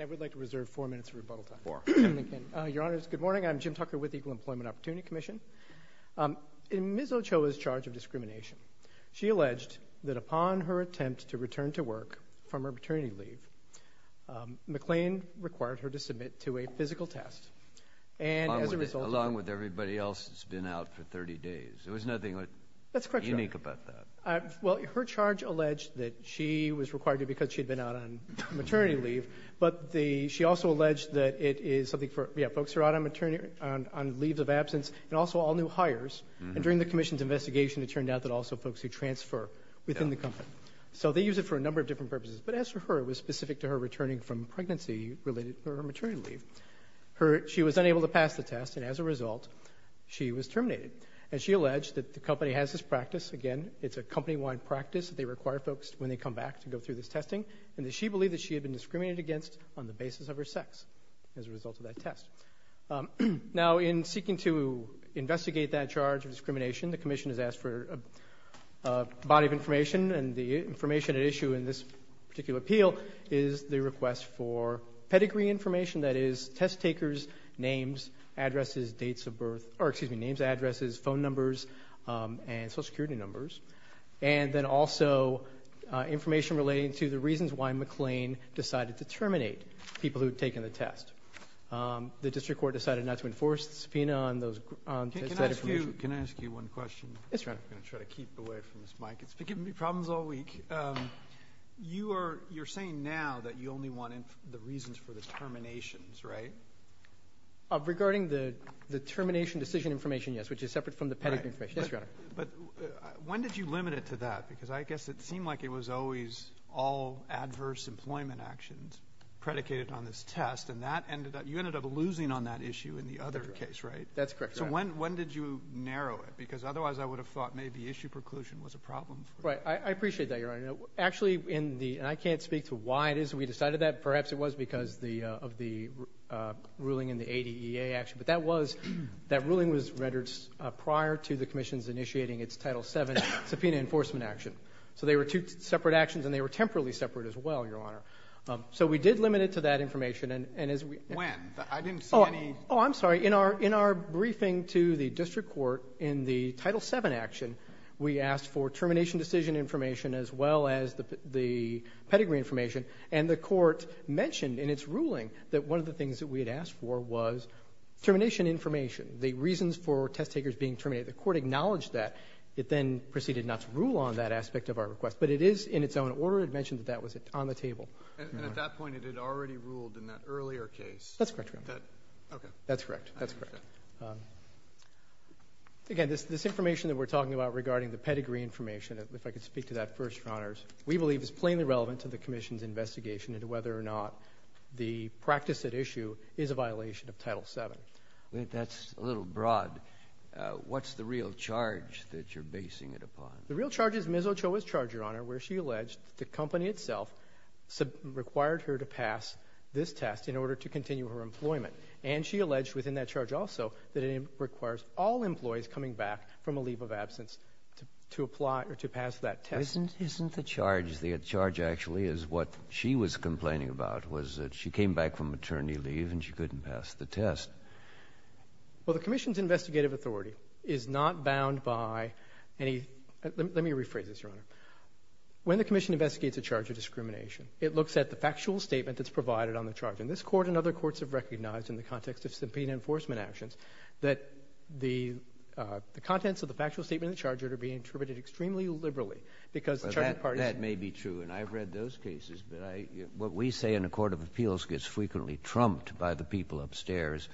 I would like to reserve four minutes of rebuttal time. Four. Your Honors, good morning. I'm Jim Tucker with the Equal Employment Opportunity Commission. In Ms. Ochoa's charge of discrimination, she alleged that upon her attempt to return to work from her maternity leave, McLane required her to submit to a physical test. And as a result… Along with everybody else that's been out for 30 days. There was nothing unique about that. That's correct, Your Honor. Well, her charge alleged that she was required to because she had been out on maternity leave, but she also alleged that it is something for folks who are out on maternity, on leave of absence, and also all new hires, and during the Commission's investigation, it turned out that also folks who transfer within the company. So they use it for a number of different purposes, but as for her, it was specific to her returning from pregnancy-related maternity leave. She was unable to pass the test, and as a result, she was terminated. And she alleged that the company has this practice, again, it's a company-wide practice that they require folks when they come back to go through this testing, and that she believed that she had been discriminated against on the basis of her sex as a result of that test. Now in seeking to investigate that charge of discrimination, the Commission has asked for a body of information, and the information at issue in this particular appeal is the request for pedigree information, that is, test takers' names, addresses, dates of birth, or excuse me, names, addresses, phone numbers, and Social Security numbers. And then also, information relating to the reasons why McLean decided to terminate people who had taken the test. The District Court decided not to enforce the subpoena on that information. Can I ask you one question? Yes, Your Honor. I'm going to try to keep away from this mic. It's been giving me problems all week. You're saying now that you only want the reasons for the terminations, right? Regarding the termination decision information, yes, which is separate from the pedigree information. Yes, Your Honor. But when did you limit it to that? Because I guess it seemed like it was always all adverse employment actions predicated on this test, and that ended up, you ended up losing on that issue in the other case, right? That's correct, Your Honor. So when did you narrow it? Because otherwise I would have thought maybe issue preclusion was a problem. Right. I appreciate that, Your Honor. Actually, in the, and I can't speak to why it is we decided that, perhaps it was because the, of the ruling in the ADEA action, but that was, that ruling was rendered prior to the commission's initiating its Title VII subpoena enforcement action. So they were two separate actions, and they were temporally separate as well, Your Honor. So we did limit it to that information, and as we- When? I didn't see any- Oh, I'm sorry. In our briefing to the district court in the Title VII action, we asked for termination decision information as well as the pedigree information, and the court mentioned in its ruling that one of the things that we had asked for was termination information, the reasons for test takers being terminated. The court acknowledged that. It then proceeded not to rule on that aspect of our request, but it is in its own order. It mentioned that that was on the table. And at that point, it had already ruled in that earlier case. That's correct, Your Honor. That, okay. That's correct. I understand. That's correct. Again, this information that we're talking about regarding the pedigree information, if I could speak to that first, Your Honors, we believe is plainly relevant to the commission's investigation into whether or not the practice at issue is a violation of Title VII. That's a little broad. What's the real charge that you're basing it upon? The real charge is Ms. Ochoa's charge, Your Honor, where she alleged that the company itself required her to pass this test in order to continue her employment. And she alleged within that charge also that it requires all employees coming back from a leave of absence to apply or to pass that test. Isn't the charge, the charge actually is what she was complaining about was that she came back from maternity leave and she couldn't pass the test. Well, the commission's investigative authority is not bound by any, let me rephrase this, Your Honor. When the commission investigates a charge of discrimination, it looks at the factual statement that's provided on the charge. And this Court and other courts have recognized in the context of subpoena enforcement actions that the contents of the factual statement of the charge are to be interpreted extremely liberally because the charge of partisan. That may be true, and I've read those cases, but what we say in a court of appeals gets frequently trumped by the people upstairs.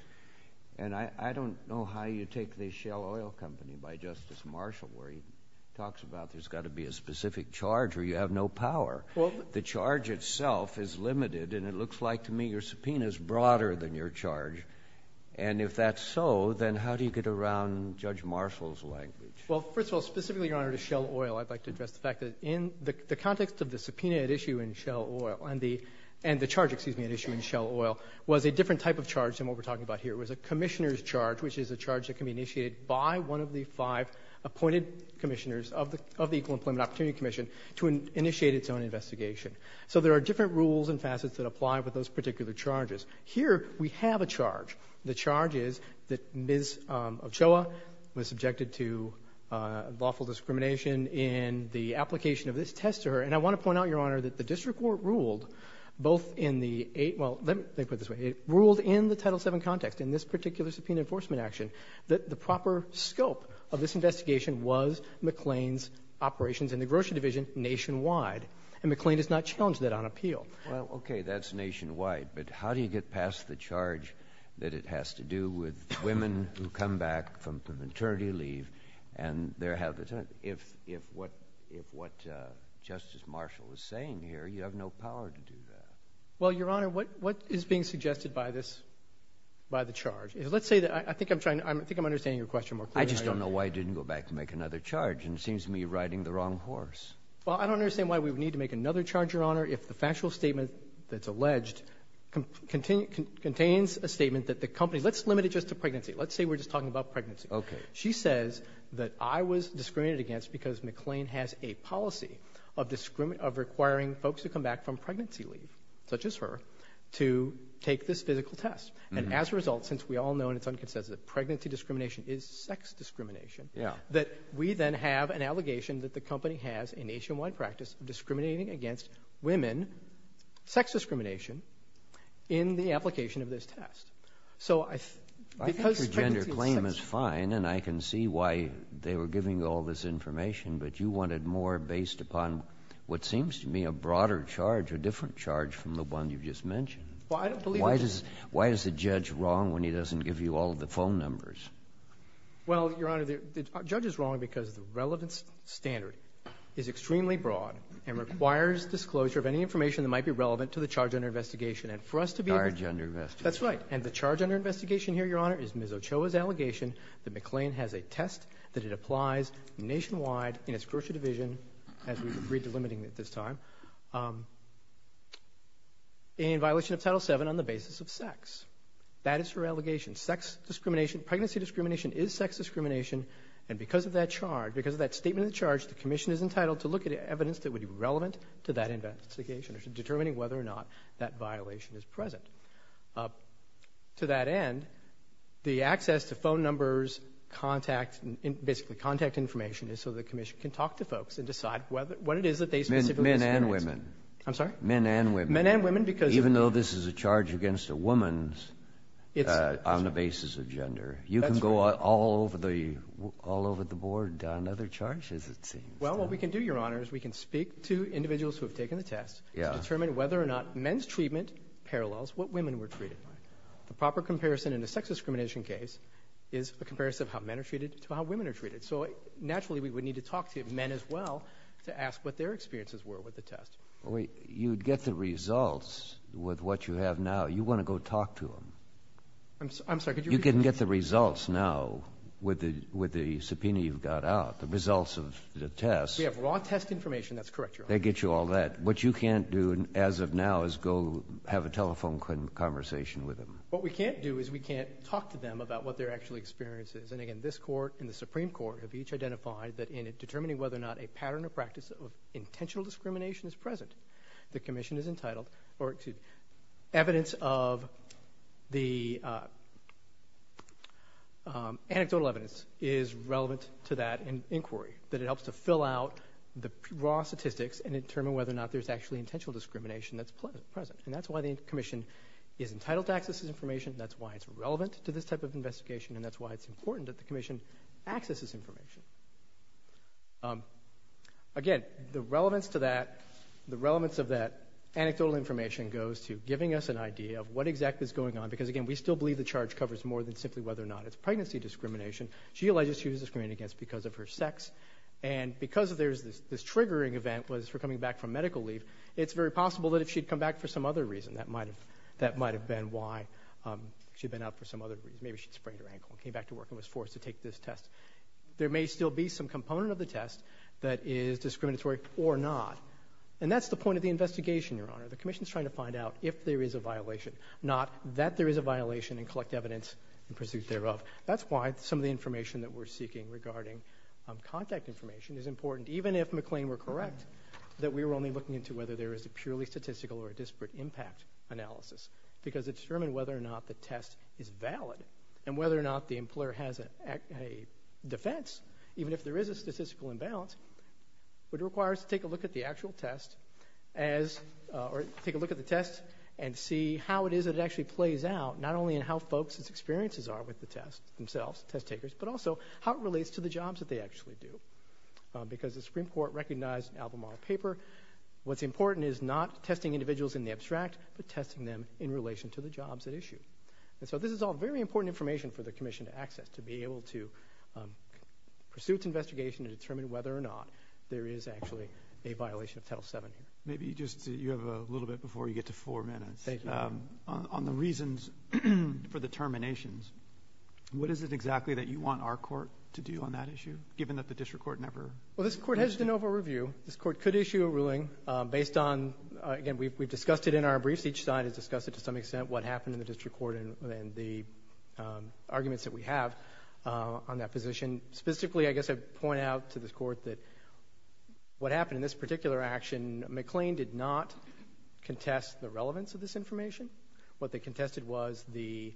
And I don't know how you take the Shell Oil Company by Justice Marshall where he talks about there's got to be a specific charge or you have no power. The charge itself is limited, and it looks like to me your subpoena is broader than your charge. And if that's so, then how do you get around Judge Marshall's language? Well, first of all, specifically, Your Honor, to Shell Oil, I'd like to address the fact that in the context of the subpoena at issue in Shell Oil and the charge, excuse me, at Shell Oil was a different type of charge than what we're talking about here. It was a commissioner's charge, which is a charge that can be initiated by one of the five appointed commissioners of the Equal Employment Opportunity Commission to initiate its own investigation. So there are different rules and facets that apply with those particular charges. Here we have a charge. The charge is that Ms. Ochoa was subjected to lawful discrimination in the application of this test to her. And I want to point out, Your Honor, that the district court ruled both in the eight – well, let me put it this way. It ruled in the Title VII context, in this particular subpoena enforcement action, that the proper scope of this investigation was McLean's operations in the grocery division nationwide. And McLean has not challenged that on appeal. Well, okay. That's nationwide. But how do you get past the charge that it has to do with women who come back from maternity leave and there have been – if what Justice Marshall is saying here, you have no power to do that. Well, Your Honor, what is being suggested by this – by the charge? Let's say that – I think I'm trying to – I think I'm understanding your question more clearly. I just don't know why it didn't go back to make another charge, and it seems to me you're riding the wrong horse. Well, I don't understand why we would need to make another charge, Your Honor, if the factual statement that's alleged contains a statement that the company – let's limit it just to pregnancy. Let's say we're just talking about pregnancy. Okay. She says that I was discriminated against because McLean has a policy of requiring folks who come back from pregnancy leave, such as her, to take this physical test. And as a result, since we all know and it's unconsensual that pregnancy discrimination is sex discrimination, that we then have an allegation that the company has a nationwide practice of discriminating against women – sex discrimination – in the application of this test. So I – because pregnancy is sex – I think your gender claim is fine, and I can see why they were giving you all this information, but you wanted more based upon what seems to me a broader charge, a different charge from the one you just mentioned. Well, I don't believe – Why does – why is the judge wrong when he doesn't give you all the phone numbers? Well, Your Honor, the judge is wrong because the relevance standard is extremely broad and requires disclosure of any information that might be relevant to the charge under investigation. And for us to be able to – Charge under investigation. That's right. And the charge under investigation here, Your Honor, is Ms. Ochoa's allegation that McLean has a test that it applies nationwide in its grocery division – as we're delimiting it this time – in violation of Title VII on the basis of sex. That is her allegation. Sex discrimination – pregnancy discrimination is sex discrimination, and because of that charge – because of that statement of the charge, the Commission is entitled to look at evidence that would be relevant to that investigation in determining whether or not that violation is present. To that end, the access to phone numbers, contact – basically, contact information is so the Commission can talk to folks and decide what it is that they specifically experience. Men and women. I'm sorry? Men and women. Men and women because – Even though this is a charge against a woman on the basis of gender, you can go all over the – all over the board on other charges, it seems. Well, what we can do, Your Honor, is we can speak to individuals who have taken the test to determine whether or not men's treatment parallels what women were treated like. The proper comparison in a sex discrimination case is a comparison of how men are treated to how women are treated. So, naturally, we would need to talk to men as well to ask what their experiences were with the test. Well, wait. You'd get the results with what you have now. You want to go talk to them. I'm sorry, could you repeat? You can get the results now with the subpoena you've got out, the results of the test. We have raw test information, that's correct, Your Honor. They get you all that. What you can't do as of now is go have a telephone conversation with them. What we can't do is we can't talk to them about what their actual experience is. And, again, this Court and the Supreme Court have each identified that in determining whether or not a pattern or practice of intentional discrimination is present, the Commission is entitled – or, excuse me, evidence of the anecdotal evidence is relevant to that there's actually intentional discrimination that's present. And that's why the Commission is entitled to access this information, that's why it's relevant to this type of investigation, and that's why it's important that the Commission access this information. Again, the relevance to that, the relevance of that anecdotal information goes to giving us an idea of what exactly is going on because, again, we still believe the charge covers more than simply whether or not it's pregnancy discrimination. She alleges she was discriminated against because of her sex. And because this triggering event was for coming back from medical leave, it's very possible that if she'd come back for some other reason, that might have been why she'd been out for some other reason. Maybe she'd sprained her ankle and came back to work and was forced to take this test. There may still be some component of the test that is discriminatory or not. And that's the point of the investigation, Your Honor. The Commission's trying to find out if there is a violation, not that there is a violation and collect evidence in pursuit thereof. That's why some of the information that we're seeking regarding contact information is important. Even if McLean were correct that we were only looking into whether there is a purely statistical or a disparate impact analysis because it's determined whether or not the test is valid and whether or not the employer has a defense, even if there is a statistical imbalance, would require us to take a look at the actual test or take a look at the test and see how it is that it actually plays out, not only in how folks' experiences are with the test themselves, test takers, but also how it relates to the jobs that they actually do. Because the Supreme Court recognized in Albemarle paper, what's important is not testing individuals in the abstract, but testing them in relation to the jobs at issue. And so this is all very important information for the Commission to access, to be able to pursue its investigation to determine whether or not there is actually a violation of Title VII. Thank you. Maybe just, you have a little bit before you get to four minutes, on the reasons for the terminations, what is it exactly that you want our court to do on that issue, given that the district court never? Well, this court has de novo review. This court could issue a ruling based on, again, we've discussed it in our briefs, each side has discussed it to some extent, what happened in the district court and the arguments that we have on that position. And specifically, I guess I'd point out to this court that what happened in this particular action, McLean did not contest the relevance of this information. What they contested was the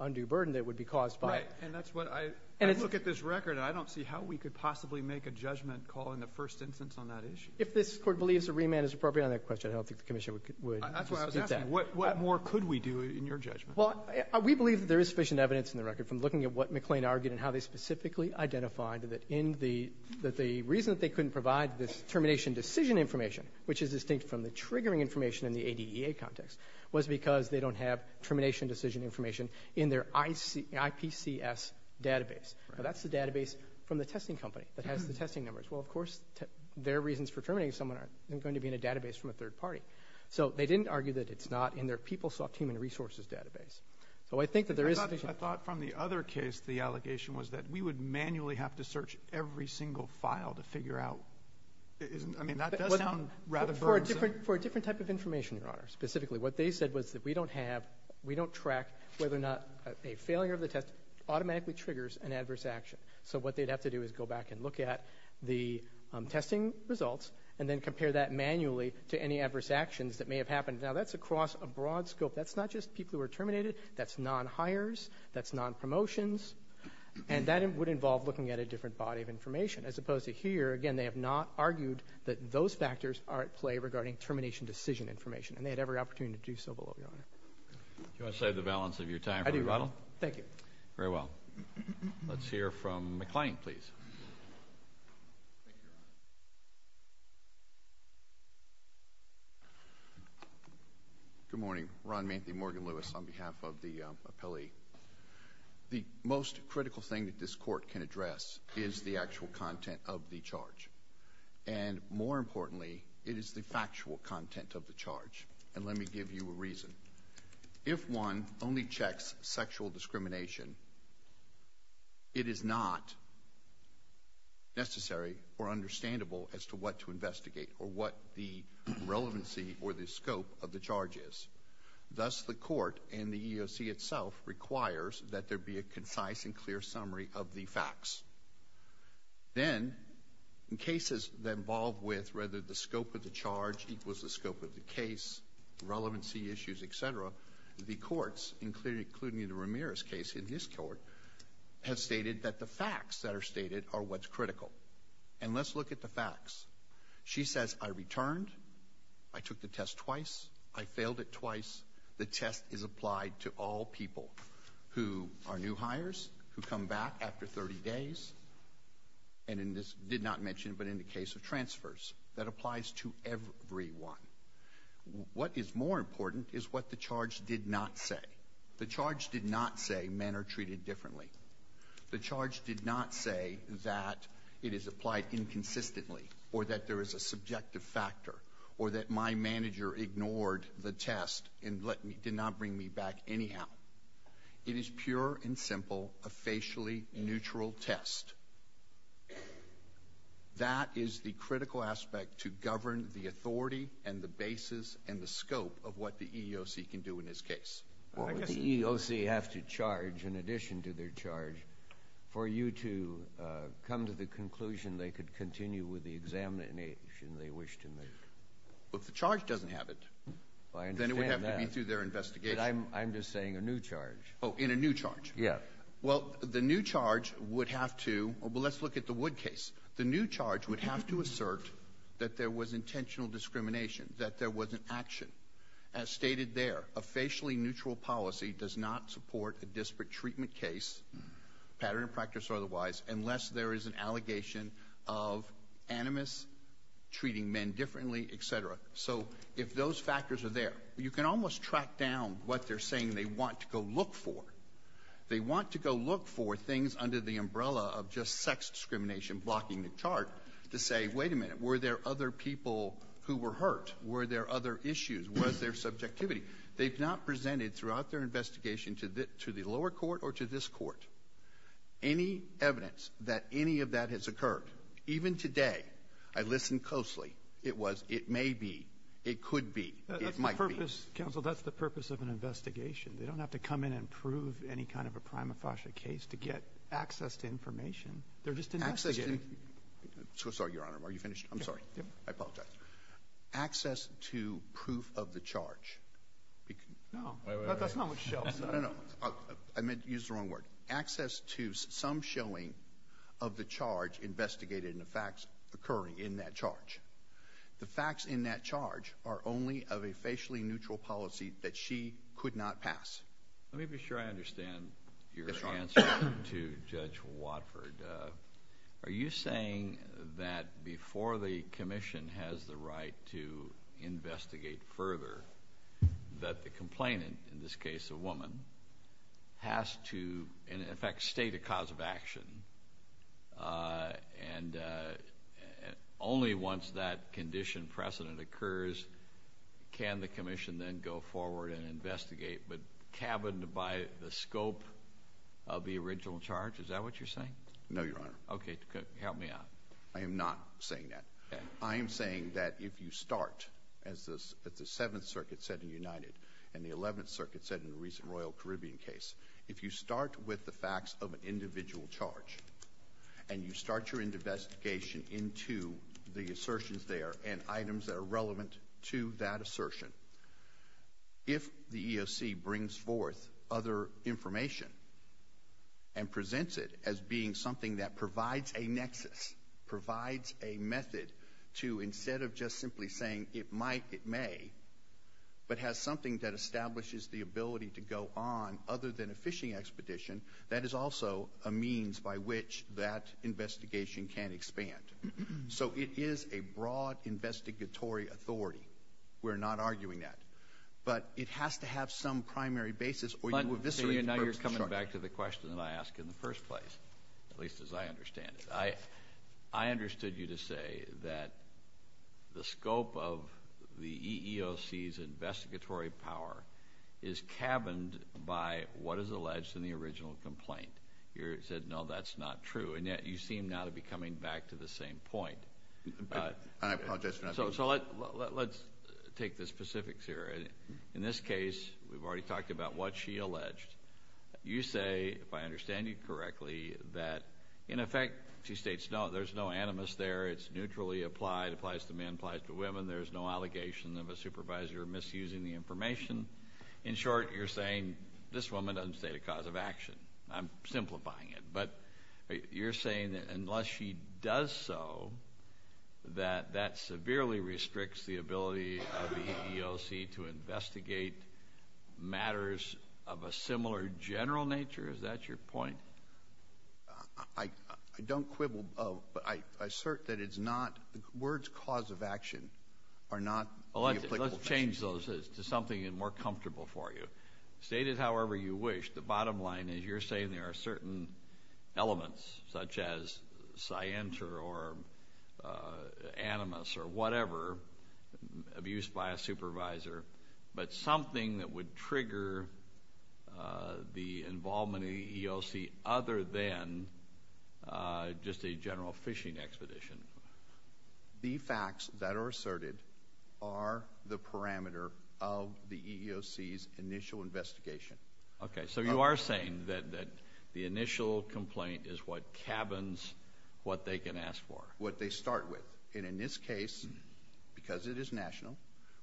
undue burden that would be caused by it. Right, and that's what I, I look at this record and I don't see how we could possibly make a judgment call in the first instance on that issue. If this court believes a remand is appropriate on that question, I don't think the Commission would dispute that. That's what I was asking, what more could we do in your judgment? Well, we believe that there is sufficient evidence in the record from looking at what was specifically identified that in the, that the reason that they couldn't provide this termination decision information, which is distinct from the triggering information in the ADEA context, was because they don't have termination decision information in their IPCS database. That's the database from the testing company that has the testing numbers. Well, of course, their reasons for terminating someone aren't going to be in a database from a third party. So, they didn't argue that it's not in their PeopleSoft human resources database. So, I think that there is sufficient. I thought from the other case, the allegation was that we would manually have to search every single file to figure out, isn't, I mean, that does sound rather burdensome. For a different type of information, Your Honor, specifically, what they said was that we don't have, we don't track whether or not a failure of the test automatically triggers an adverse action. So, what they'd have to do is go back and look at the testing results and then compare that manually to any adverse actions that may have happened. Now, that's across a broad scope. That's not just people who are terminated. That's non-hires. That's non-promotions. And that would involve looking at a different body of information, as opposed to here, again, they have not argued that those factors are at play regarding termination decision information. And they had every opportunity to do so, below, Your Honor. Do you want to save the balance of your time for rebuttal? I do. Thank you. Very well. Let's hear from McClain, please. Thank you, Your Honor. Good morning. Ron Manthey, Morgan Lewis, on behalf of the appellee. The most critical thing that this Court can address is the actual content of the charge. And more importantly, it is the factual content of the charge. And let me give you a reason. If one only checks sexual discrimination, it is not necessary or understandable as to what to investigate, or what the relevancy or the scope of the charge is. Thus, the Court, and the EEOC itself, requires that there be a concise and clear summary of the facts. Then, in cases involved with whether the scope of the charge equals the scope of the case, relevancy issues, etc., the courts, including the Ramirez case in this Court, have stated that the facts that are stated are what's critical. And let's look at the facts. She says, I returned, I took the test twice, I failed it twice. The test is applied to all people who are new hires, who come back after 30 days, and in this, did not mention, but in the case of transfers, that applies to everyone. What is more important is what the charge did not say. The charge did not say men are treated differently. The charge did not say that it is applied inconsistently, or that there is a subjective factor, or that my manager ignored the test and did not bring me back anyhow. It is pure and simple, a facially neutral test. That is the critical aspect to govern the authority and the basis and the scope of what the EEOC can do in this case. The EEOC has to charge, in addition to their charge, for you to come to the conclusion they could continue with the examination they wish to make. Well, if the charge doesn't have it, then it would have to be through their investigation. I'm just saying a new charge. Oh, in a new charge. Yeah. Well, the new charge would have to, well, let's look at the Wood case. The new charge would have to assert that there was intentional discrimination, that there was an action. As stated there, a facially neutral policy does not support a disparate treatment case, pattern of practice or otherwise, unless there is an allegation of animus, treating men differently, et cetera. So if those factors are there, you can almost track down what they're saying they want to go look for. They want to go look for things under the umbrella of just sex discrimination blocking the chart to say, wait a minute, were there other people who were hurt? Were there other issues? Was there subjectivity? They've not presented throughout their investigation to the lower court or to this court any evidence that any of that has occurred. Even today, I listened closely. It was it may be, it could be, it might be. Counsel, that's the purpose of an investigation. They don't have to come in and prove any kind of a prima facie case to get access to information. They're just investigating. I'm so sorry, Your Honor. Are you finished? I'm sorry. I apologize. Access to proof of the charge. No. Wait, wait, wait. That's not what shows. No, no, no. I meant to use the wrong word. Access to some showing of the charge investigated and the facts occurring in that charge. The facts in that charge are only of a facially neutral policy that she could not pass. Let me be sure I understand your answer to Judge Watford. Are you saying that before the commission has the right to investigate further, that the complainant, in this case a woman, has to in effect state a cause of action and only once that condition precedent occurs can the commission then go forward and investigate, but cabined by the scope of the original charge? Is that what you're saying? No, Your Honor. Okay. Help me out. I am not saying that. I am saying that if you start, as the Seventh Circuit said in United and the Eleventh Circuit said in the recent Royal Caribbean case, if you start with the facts of an individual charge and you start your investigation into the assertions there and items that are relevant to that assertion, if the EEOC brings forth other information and presents it as being something that provides a nexus, provides a method to, instead of just simply saying it might, it may, but has something that establishes the ability to go on other than a fishing expedition, that is also a means by which that investigation can expand. So it is a broad investigatory authority. We're not arguing that. But it has to have some primary basis or you eviscerate the purpose of the charge. Now you're coming back to the question that I asked in the first place, at least as I understand it. I understood you to say that the scope of the EEOC's investigatory power is cabined by what is alleged in the original complaint. You said, no, that's not true, and yet you seem now to be coming back to the same point. I apologize for not being clear. So let's take the specifics here. In this case, we've already talked about what she alleged. You say, if I understand you correctly, that, in effect, she states, no, there's no animus there. It's neutrally applied. It applies to men. It applies to women. There's no allegation of a supervisor misusing the information. In short, you're saying this woman doesn't state a cause of action. I'm simplifying it. But you're saying that unless she does so, that that severely restricts the ability of the EEOC to investigate matters of a similar general nature? Is that your point? I don't quibble, but I assert that it's not. Words cause of action are not the applicable things. Let's change those to something more comfortable for you. Stated however you wish, the bottom line is you're saying there are certain elements, such as scienter or animus or whatever, abused by a supervisor, but something that would trigger the involvement of the EEOC other than just a general phishing expedition. The facts that are asserted are the parameter of the EEOC's initial investigation. Okay. So you are saying that the initial complaint is what cabins what they can ask for. What they start with. And in this case, because it is national,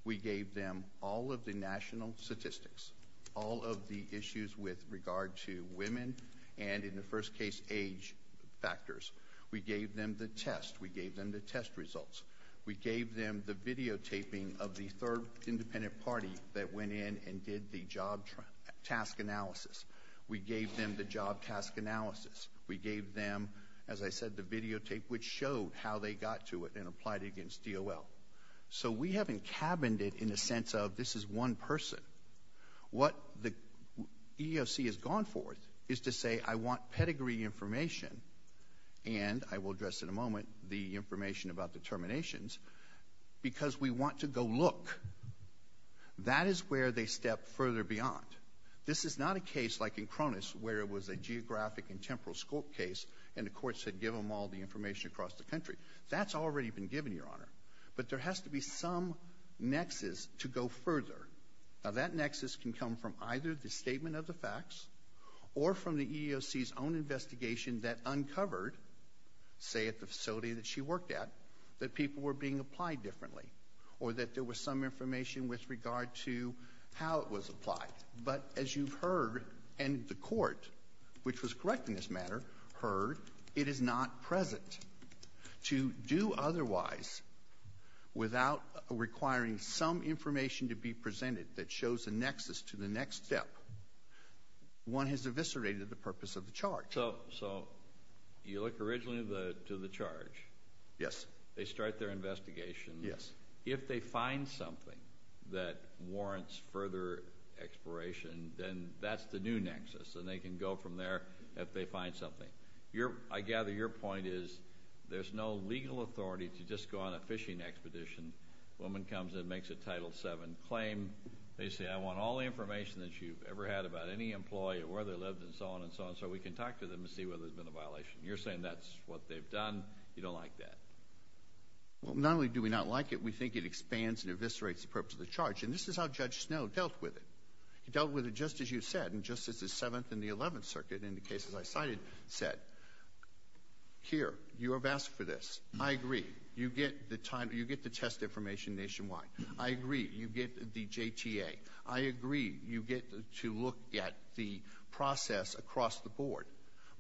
we gave them all of the national statistics, all of the issues with regard to women and, in the first case, age factors. We gave them the test. We gave them the test results. We gave them the videotaping of the third independent party that went in and did the job task analysis. We gave them the job task analysis. We gave them, as I said, the videotape, which showed how they got to it and applied it against DOL. So we haven't cabined it in the sense of this is one person. What the EEOC has gone forth is to say I want pedigree information, and I will address in a moment the information about determinations, because we want to go look. That is where they step further beyond. This is not a case like in Cronus where it was a geographic and temporal scope case, and the courts had given them all the information across the country. That's already been given, Your Honor. But there has to be some nexus to go further. Now, that nexus can come from either the statement of the facts or from the EEOC's own investigation that uncovered, say, at the facility that she worked at, that people were being applied differently or that there was some information with regard to how it was applied. But as you've heard, and the court, which was correct in this matter, heard, it is not present to do otherwise without requiring some information to be presented that shows a nexus to the next step. One has eviscerated the purpose of the charge. So you look originally to the charge. Yes. They start their investigation. Yes. If they find something that warrants further exploration, then that's the new nexus, and they can go from there if they find something. I gather your point is there's no legal authority to just go on a fishing expedition. A woman comes in and makes a Title VII claim. They say, I want all the information that you've ever had about any employee or where they lived and so on and so on, so we can talk to them and see whether there's been a violation. You're saying that's what they've done. You don't like that. Well, not only do we not like it, we think it expands and eviscerates the purpose of the charge. And this is how Judge Snow dealt with it. He dealt with it just as you said and just as the Seventh and the Eleventh Circuit in the cases I cited said. Here, you have asked for this. I agree. You get the test information nationwide. I agree. You get the JTA. I agree. You get to look at the process across the board.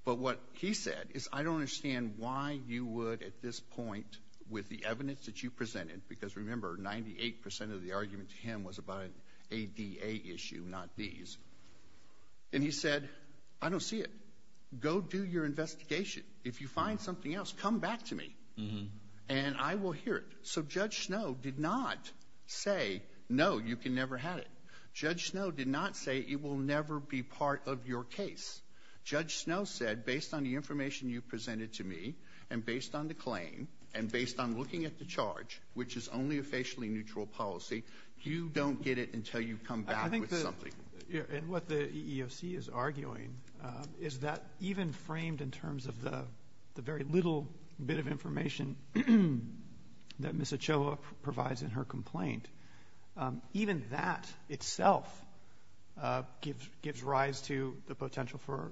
But what he said is I don't understand why you would at this point with the evidence that you presented, because remember, 98% of the argument to him was about an ADA issue, not these. And he said, I don't see it. Go do your investigation. If you find something else, come back to me, and I will hear it. So Judge Snow did not say, no, you can never have it. Judge Snow did not say it will never be part of your case. Judge Snow said, based on the information you presented to me and based on the claim and based on looking at the charge, which is only a facially neutral policy, you don't get it until you come back with something. And what the EEOC is arguing is that even framed in terms of the very little bit of information that Ms. It gives rise to the potential for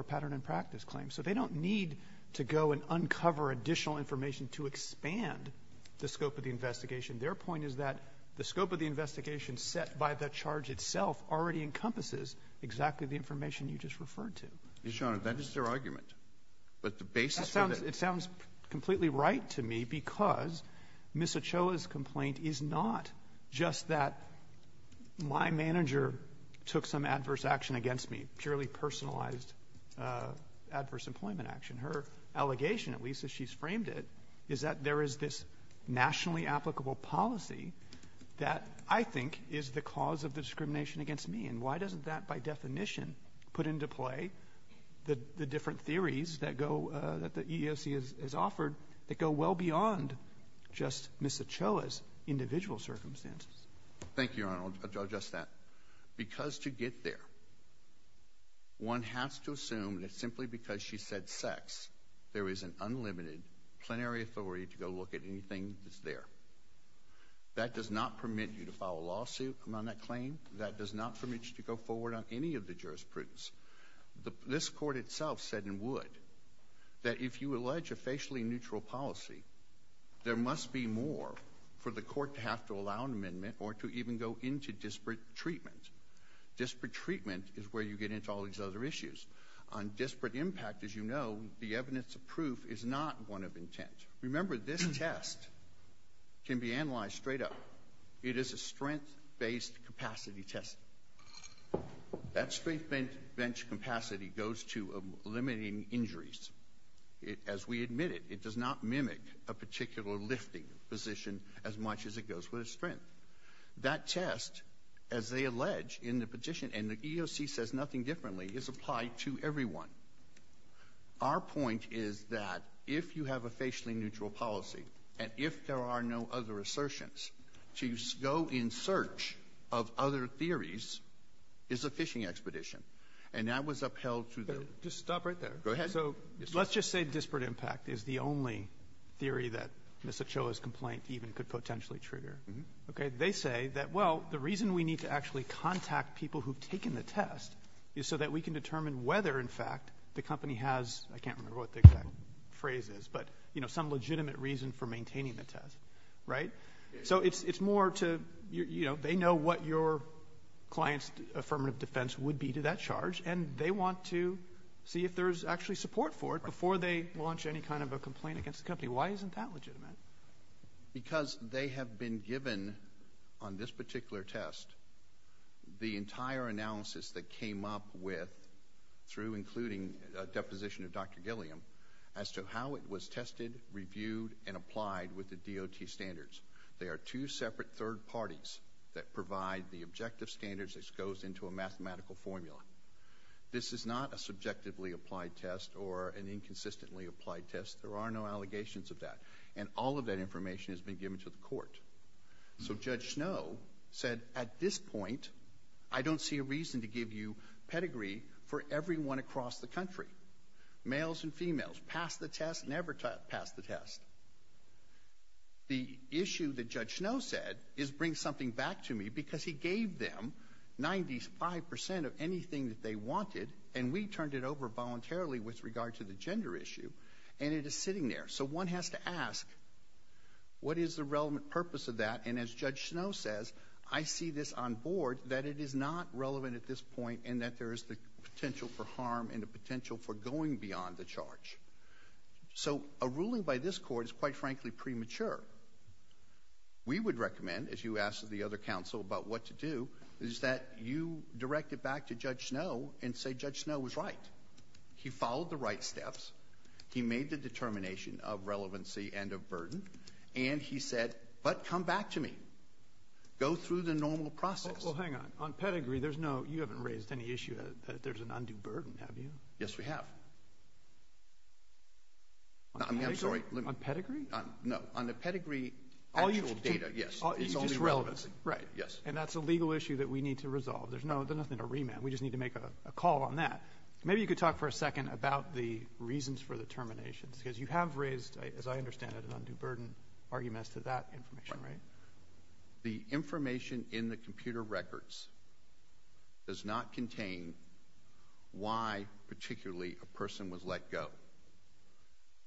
a pattern in practice claim. So they don't need to go and uncover additional information to expand the scope of the investigation. Their point is that the scope of the investigation set by the charge itself already encompasses exactly the information you just referred to. Your Honor, that is their argument. It sounds completely right to me because Ms. Ochoa's complaint is not just that my manager took some adverse action against me, purely personalized adverse employment action. Her allegation, at least as she's framed it, is that there is this nationally applicable policy that I think is the cause of the discrimination against me. And why doesn't that, by definition, put into play the different theories that the EEOC has offered that go well beyond just Ms. Ochoa's individual circumstances? Thank you, Your Honor. I'll address that. Because to get there, one has to assume that simply because she said sex, there is an unlimited plenary authority to go look at anything that's there. That does not permit you to file a lawsuit on that claim. That does not permit you to go forward on any of the jurisprudence. This court itself said, and would, that if you allege a facially neutral policy, there must be more for the court to have to allow an amendment or to even go into disparate treatment. Disparate treatment is where you get into all these other issues. On disparate impact, as you know, the evidence of proof is not one of intent. Remember, this test can be analyzed straight up. It is a strength-based capacity test. That strength bench capacity goes to eliminating injuries. As we admit it, it does not mimic a particular lifting position as much as it goes with a strength. That test, as they allege in the petition, and the EEOC says nothing differently, is applied to everyone. Our point is that if you have a facially neutral policy and if there are no other assertions, to go in search of other theories is a fishing expedition. And that was upheld through the — Just stop right there. Go ahead. So let's just say disparate impact is the only theory that Ms. Ochoa's complaint even could potentially trigger. They say that, well, the reason we need to actually contact people who've taken the test is so that we can determine whether, in fact, the company has — I can't remember what the exact phrase is, but some legitimate reason for maintaining the test, right? So it's more to — they know what your client's affirmative defense would be to that charge, and they want to see if there's actually support for it before they launch any kind of a complaint against the company. Why isn't that legitimate? Because they have been given, on this particular test, the entire analysis that came up with, through including a deposition of Dr. Gilliam, as to how it was tested, reviewed, and applied with the DOT standards. They are two separate third parties that provide the objective standards. This goes into a mathematical formula. This is not a subjectively applied test or an inconsistently applied test. There are no allegations of that. And all of that information has been given to the court. So Judge Snow said, at this point, I don't see a reason to give you pedigree for everyone across the country, males and females, pass the test, never pass the test. The issue that Judge Snow said is bring something back to me, because he gave them 95 percent of anything that they wanted, and we turned it over voluntarily with regard to the gender issue, and it is sitting there. So one has to ask, what is the relevant purpose of that? And as Judge Snow says, I see this on board that it is not relevant at this point and that there is the potential for harm and the potential for going beyond the charge. So a ruling by this court is, quite frankly, premature. We would recommend, as you asked the other counsel about what to do, is that you direct it back to Judge Snow and say Judge Snow was right. He followed the right steps. He made the determination of relevancy and of burden. And he said, but come back to me. Go through the normal process. Well, hang on. On pedigree, there's no—you haven't raised any issue that there's an undue burden, have you? Yes, we have. On pedigree? No, on the pedigree actual data, yes. It's only relevancy. Right. And that's a legal issue that we need to resolve. There's nothing to remand. We just need to make a call on that. Maybe you could talk for a second about the reasons for the terminations, because you have raised, as I understand it, an undue burden, arguments to that information, right? The information in the computer records does not contain why particularly a person was let go.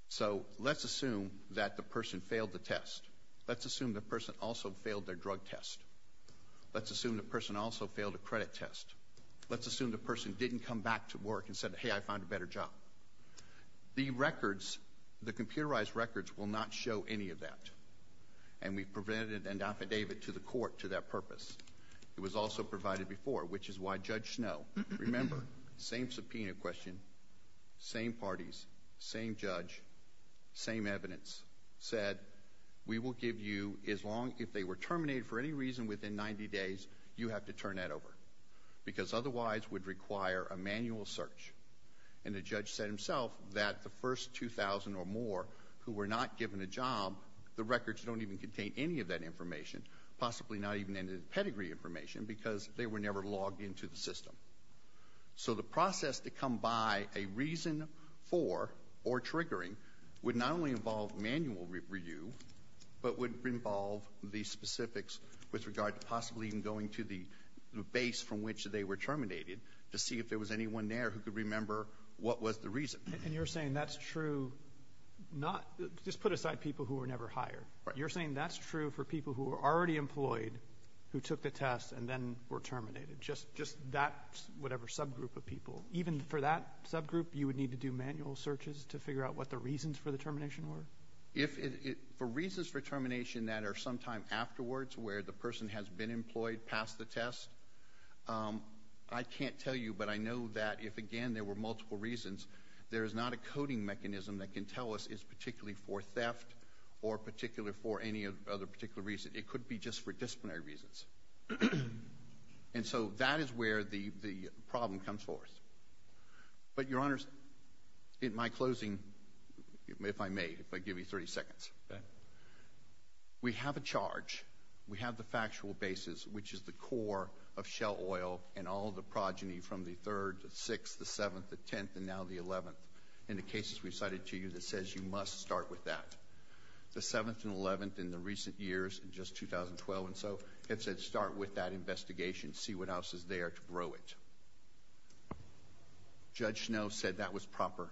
So let's assume that the person failed the test. Let's assume the person also failed their drug test. Let's assume the person also failed a credit test. Let's assume the person didn't come back to work and said, hey, I found a better job. The records, the computerized records, will not show any of that, and we've provided an affidavit to the court to that purpose. It was also provided before, which is why Judge Snowe—remember, same subpoena question, same parties, same judge, same evidence—said, we will give you, if they were terminated for any reason within 90 days, you have to turn that over, because otherwise it would require a manual search. And the judge said himself that the first 2,000 or more who were not given a job, the records don't even contain any of that information, possibly not even any of the pedigree information because they were never logged into the system. So the process to come by a reason for or triggering would not only involve manual review, but would involve the specifics with regard to possibly even going to the base from which they were terminated to see if there was anyone there who could remember what was the reason. And you're saying that's true not—just put aside people who were never hired. You're saying that's true for people who were already employed who took the test and then were terminated, just that whatever subgroup of people. Even for that subgroup, you would need to do manual searches to figure out what the reasons for the termination were? For reasons for termination that are sometime afterwards, where the person has been employed, passed the test, I can't tell you, but I know that if, again, there were multiple reasons, there is not a coding mechanism that can tell us it's particularly for theft or particularly for any other particular reason. It could be just for disciplinary reasons. And so that is where the problem comes forth. But, Your Honors, in my closing, if I may, if I give you 30 seconds, we have a charge. We have the factual basis, which is the core of Shell Oil and all the progeny from the 3rd, the 6th, the 7th, the 10th, and now the 11th in the cases we've cited to you that says you must start with that. The 7th and 11th in the recent years, in just 2012 and so, it said start with that investigation, see what else is there to grow it. Judge Snow said that was proper.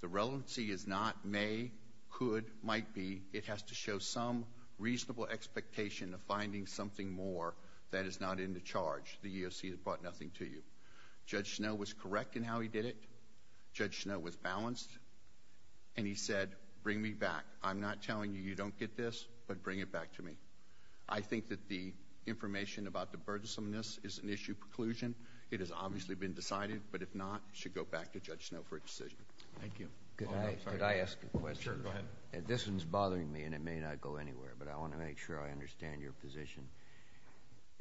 The relevancy is not may, could, might be. It has to show some reasonable expectation of finding something more that is not in the charge. The EOC has brought nothing to you. Judge Snow was correct in how he did it. Judge Snow was balanced. And he said, bring me back. I'm not telling you you don't get this, but bring it back to me. I think that the information about the burdensomeness is an issue preclusion. It has obviously been decided, but if not, it should go back to Judge Snow for a decision. Thank you. Could I ask a question? Sure, go ahead. This one is bothering me, and it may not go anywhere, but I want to make sure I understand your position.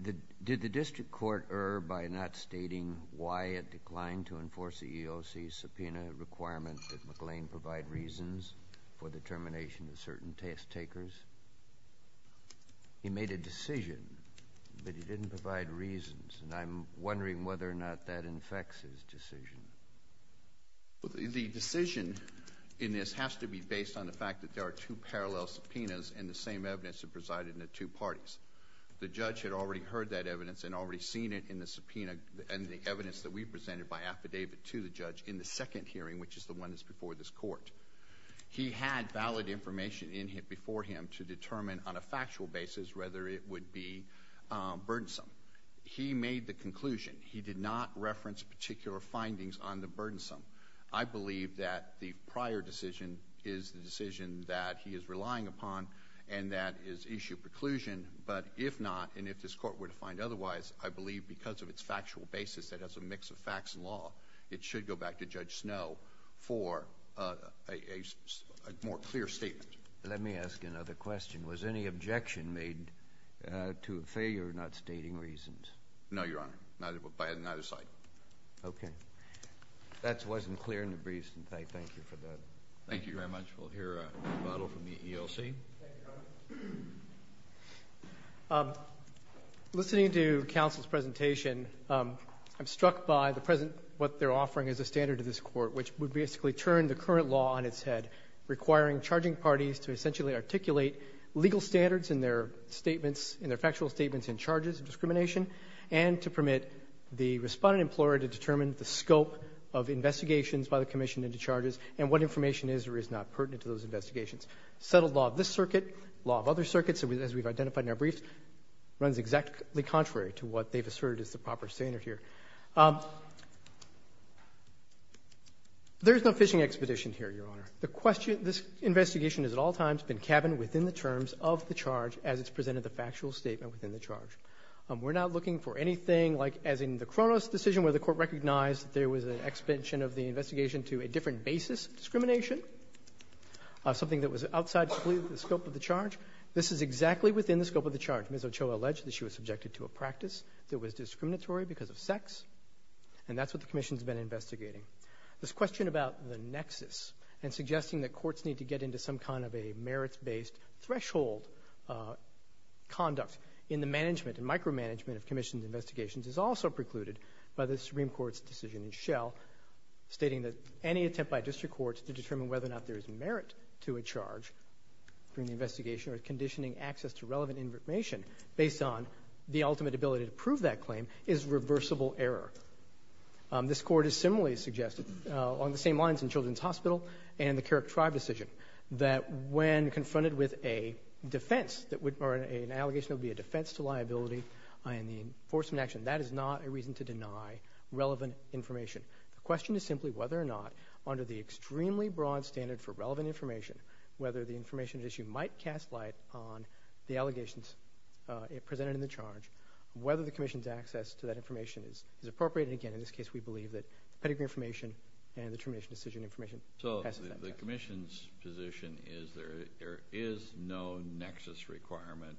Did the district court err by not stating why it declined to enforce the EOC's subpoena requirement that McLean provide reasons for the termination of certain test takers? He made a decision, but he didn't provide reasons, and I'm wondering whether or not that infects his decision. The decision in this has to be based on the fact that there are two parallel subpoenas and the same evidence that presided in the two parties. The judge had already heard that evidence and already seen it in the subpoena and the evidence that we presented by affidavit to the judge in the second hearing, which is the one that's before this court. He had valid information before him to determine on a factual basis whether it would be burdensome. He made the conclusion. He did not reference particular findings on the burdensome. I believe that the prior decision is the decision that he is relying upon and that is issue preclusion, but if not and if this court were to find otherwise, I believe because of its factual basis that has a mix of facts and law, it should go back to Judge Snow for a more clear statement. Let me ask another question. Was any objection made to a failure of not stating reasons? No, Your Honor, by neither side. Okay. That wasn't clear in the briefs, and I thank you for that. Thank you very much. We'll hear a rebuttal from the EOC. Thank you, Your Honor. Listening to counsel's presentation, I'm struck by the present what they're offering as a standard to this court, which would basically turn the current law on its head, requiring charging parties to essentially articulate legal standards in their statements, in their factual statements in charges of discrimination, and to permit the respondent employer to determine the scope of investigations by the commission into charges and what information is or is not pertinent to those investigations. Settled law of this circuit, law of other circuits, as we've identified in our briefs, runs exactly contrary to what they've asserted is the proper standard here. There's no fishing expedition here, Your Honor. This investigation has at all times been cabined within the terms of the charge as it's presented the factual statement within the charge. We're not looking for anything like, as in the Kronos decision, where the court recognized that there was an extension of the investigation to a different basis of discrimination, something that was outside the scope of the charge. This is exactly within the scope of the charge. Ms. Ochoa alleged that she was subjected to a practice that was discriminatory because of sex, and that's what the commission's been investigating. This question about the nexus and suggesting that courts need to get into some kind of a merits-based threshold conduct in the management and micromanagement of commissions' investigations is also precluded by the Supreme Court's decision in Shell stating that any attempt by district courts to determine whether or not there is merit to a charge during the investigation or conditioning access to relevant information based on the ultimate ability to prove that claim is reversible error. This court has similarly suggested on the same lines in Children's Hospital and the Carrick Tribe decision that when confronted with a defense or an allegation of a defense to liability in the enforcement action, that is not a reason to deny relevant information. The question is simply whether or not under the extremely broad standard for relevant information, whether the information at issue might cast light on the allegations presented in the charge, whether the commission's access to that information is appropriate. Again, in this case, we believe that pedigree information and the termination decision information passes that test. So the commission's position is there is no nexus requirement?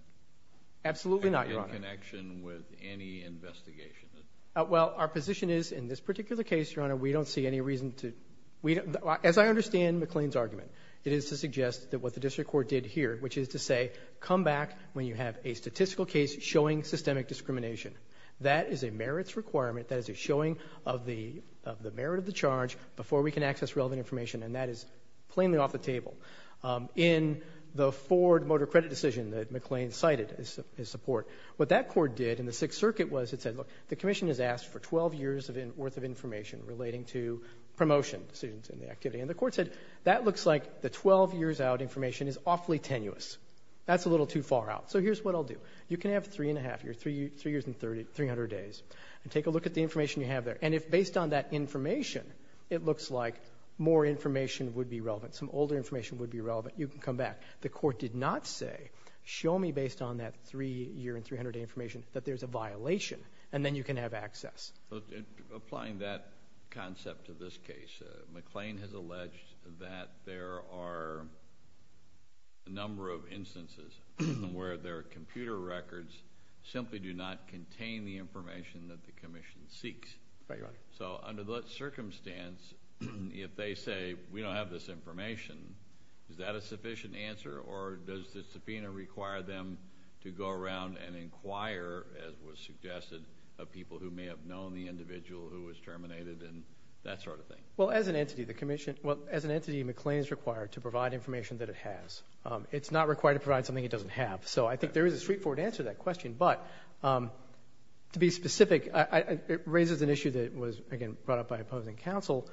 Absolutely not, Your Honor. In connection with any investigation? Well, our position is in this particular case, Your Honor, we don't see any reason to – as I understand McLean's argument, it is to suggest that what the district court did here, which is to say come back when you have a statistical case showing systemic discrimination. That is a merits requirement. That is a showing of the merit of the charge before we can access relevant information, and that is plainly off the table. In the Ford Motor Credit decision that McLean cited as support, what that court did in the Sixth Circuit was it said, look, the commission has asked for 12 years' worth of information relating to promotion decisions in the activity. And the court said that looks like the 12 years out information is awfully tenuous. That's a little too far out. So here's what I'll do. You can have three and a half years, three years and 300 days, and take a look at the information you have there. And if based on that information, it looks like more information would be relevant, some older information would be relevant, you can come back. The court did not say show me based on that three year and 300 day information that there's a violation, and then you can have access. Applying that concept to this case, McLean has alleged that there are a number of instances where their computer records simply do not contain the information that the commission seeks. Right, Your Honor. So under that circumstance, if they say we don't have this information, is that a sufficient answer? Or does the subpoena require them to go around and inquire, as was suggested, of people who may have known the individual who was terminated and that sort of thing? Well, as an entity, McLean is required to provide information that it has. It's not required to provide something it doesn't have. But to be specific, it raises an issue that was, again, brought up by opposing counsel.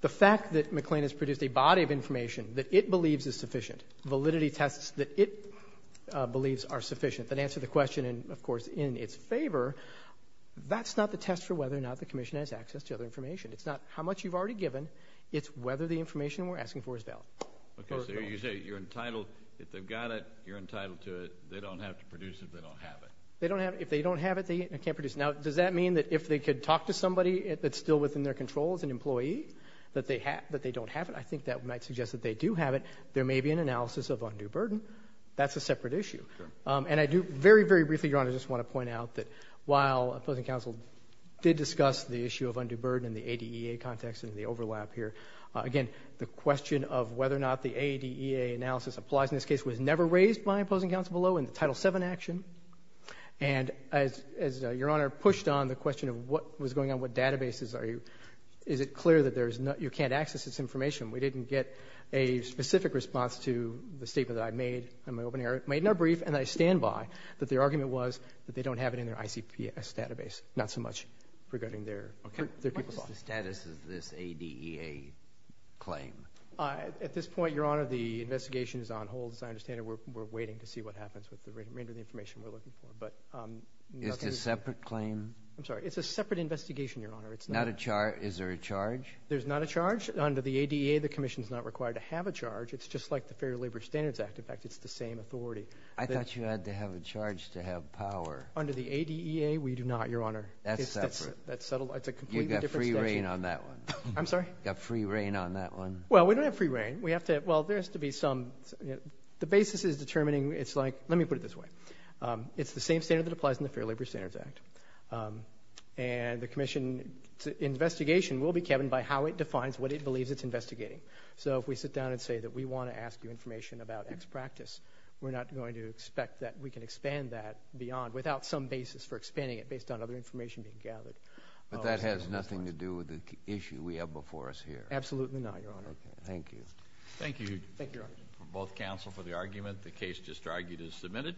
The fact that McLean has produced a body of information that it believes is sufficient, validity tests that it believes are sufficient, that answer the question and, of course, in its favor, that's not the test for whether or not the commission has access to other information. It's not how much you've already given, it's whether the information we're asking for is valid. Okay, so you say you're entitled, if they've got it, you're entitled to it, but they don't have to produce it if they don't have it. If they don't have it, they can't produce it. Now, does that mean that if they could talk to somebody that's still within their control as an employee, that they don't have it? I think that might suggest that they do have it. There may be an analysis of undue burden. That's a separate issue. And I do very, very briefly, Your Honor, just want to point out that while opposing counsel did discuss the issue of undue burden in the ADEA context and the overlap here, again, the question of whether or not the ADEA analysis applies in this case was never raised by opposing counsel below in the Title VII action. And as Your Honor pushed on the question of what was going on, what databases are you, is it clear that you can't access this information? We didn't get a specific response to the statement that I made in my opening argument. I made it brief and I stand by that their argument was that they don't have it in their ICPS database, not so much regarding their people's office. What is the status of this ADEA claim? At this point, Your Honor, the investigation is on hold, as I understand it. We're waiting to see what happens with the remainder of the information we're looking for. Is it a separate claim? I'm sorry. It's a separate investigation, Your Honor. Is there a charge? There's not a charge. Under the ADEA, the commission is not required to have a charge. It's just like the Fair Labor Standards Act. In fact, it's the same authority. I thought you had to have a charge to have power. Under the ADEA, we do not, Your Honor. That's separate. You've got free reign on that one. I'm sorry? You've got free reign on that one. Well, we don't have free reign. Well, there has to be some. The basis is determining. It's like, let me put it this way. It's the same standard that applies in the Fair Labor Standards Act. And the commission's investigation will be governed by how it defines what it believes it's investigating. So if we sit down and say that we want to ask you information about X practice, we're not going to expect that we can expand that beyond, without some basis for expanding it based on other information being gathered. But that has nothing to do with the issue we have before us here. Absolutely not, Your Honor. Thank you. Thank you. Thank you, Your Honor. We're both counsel for the argument. The case just argued is submitted.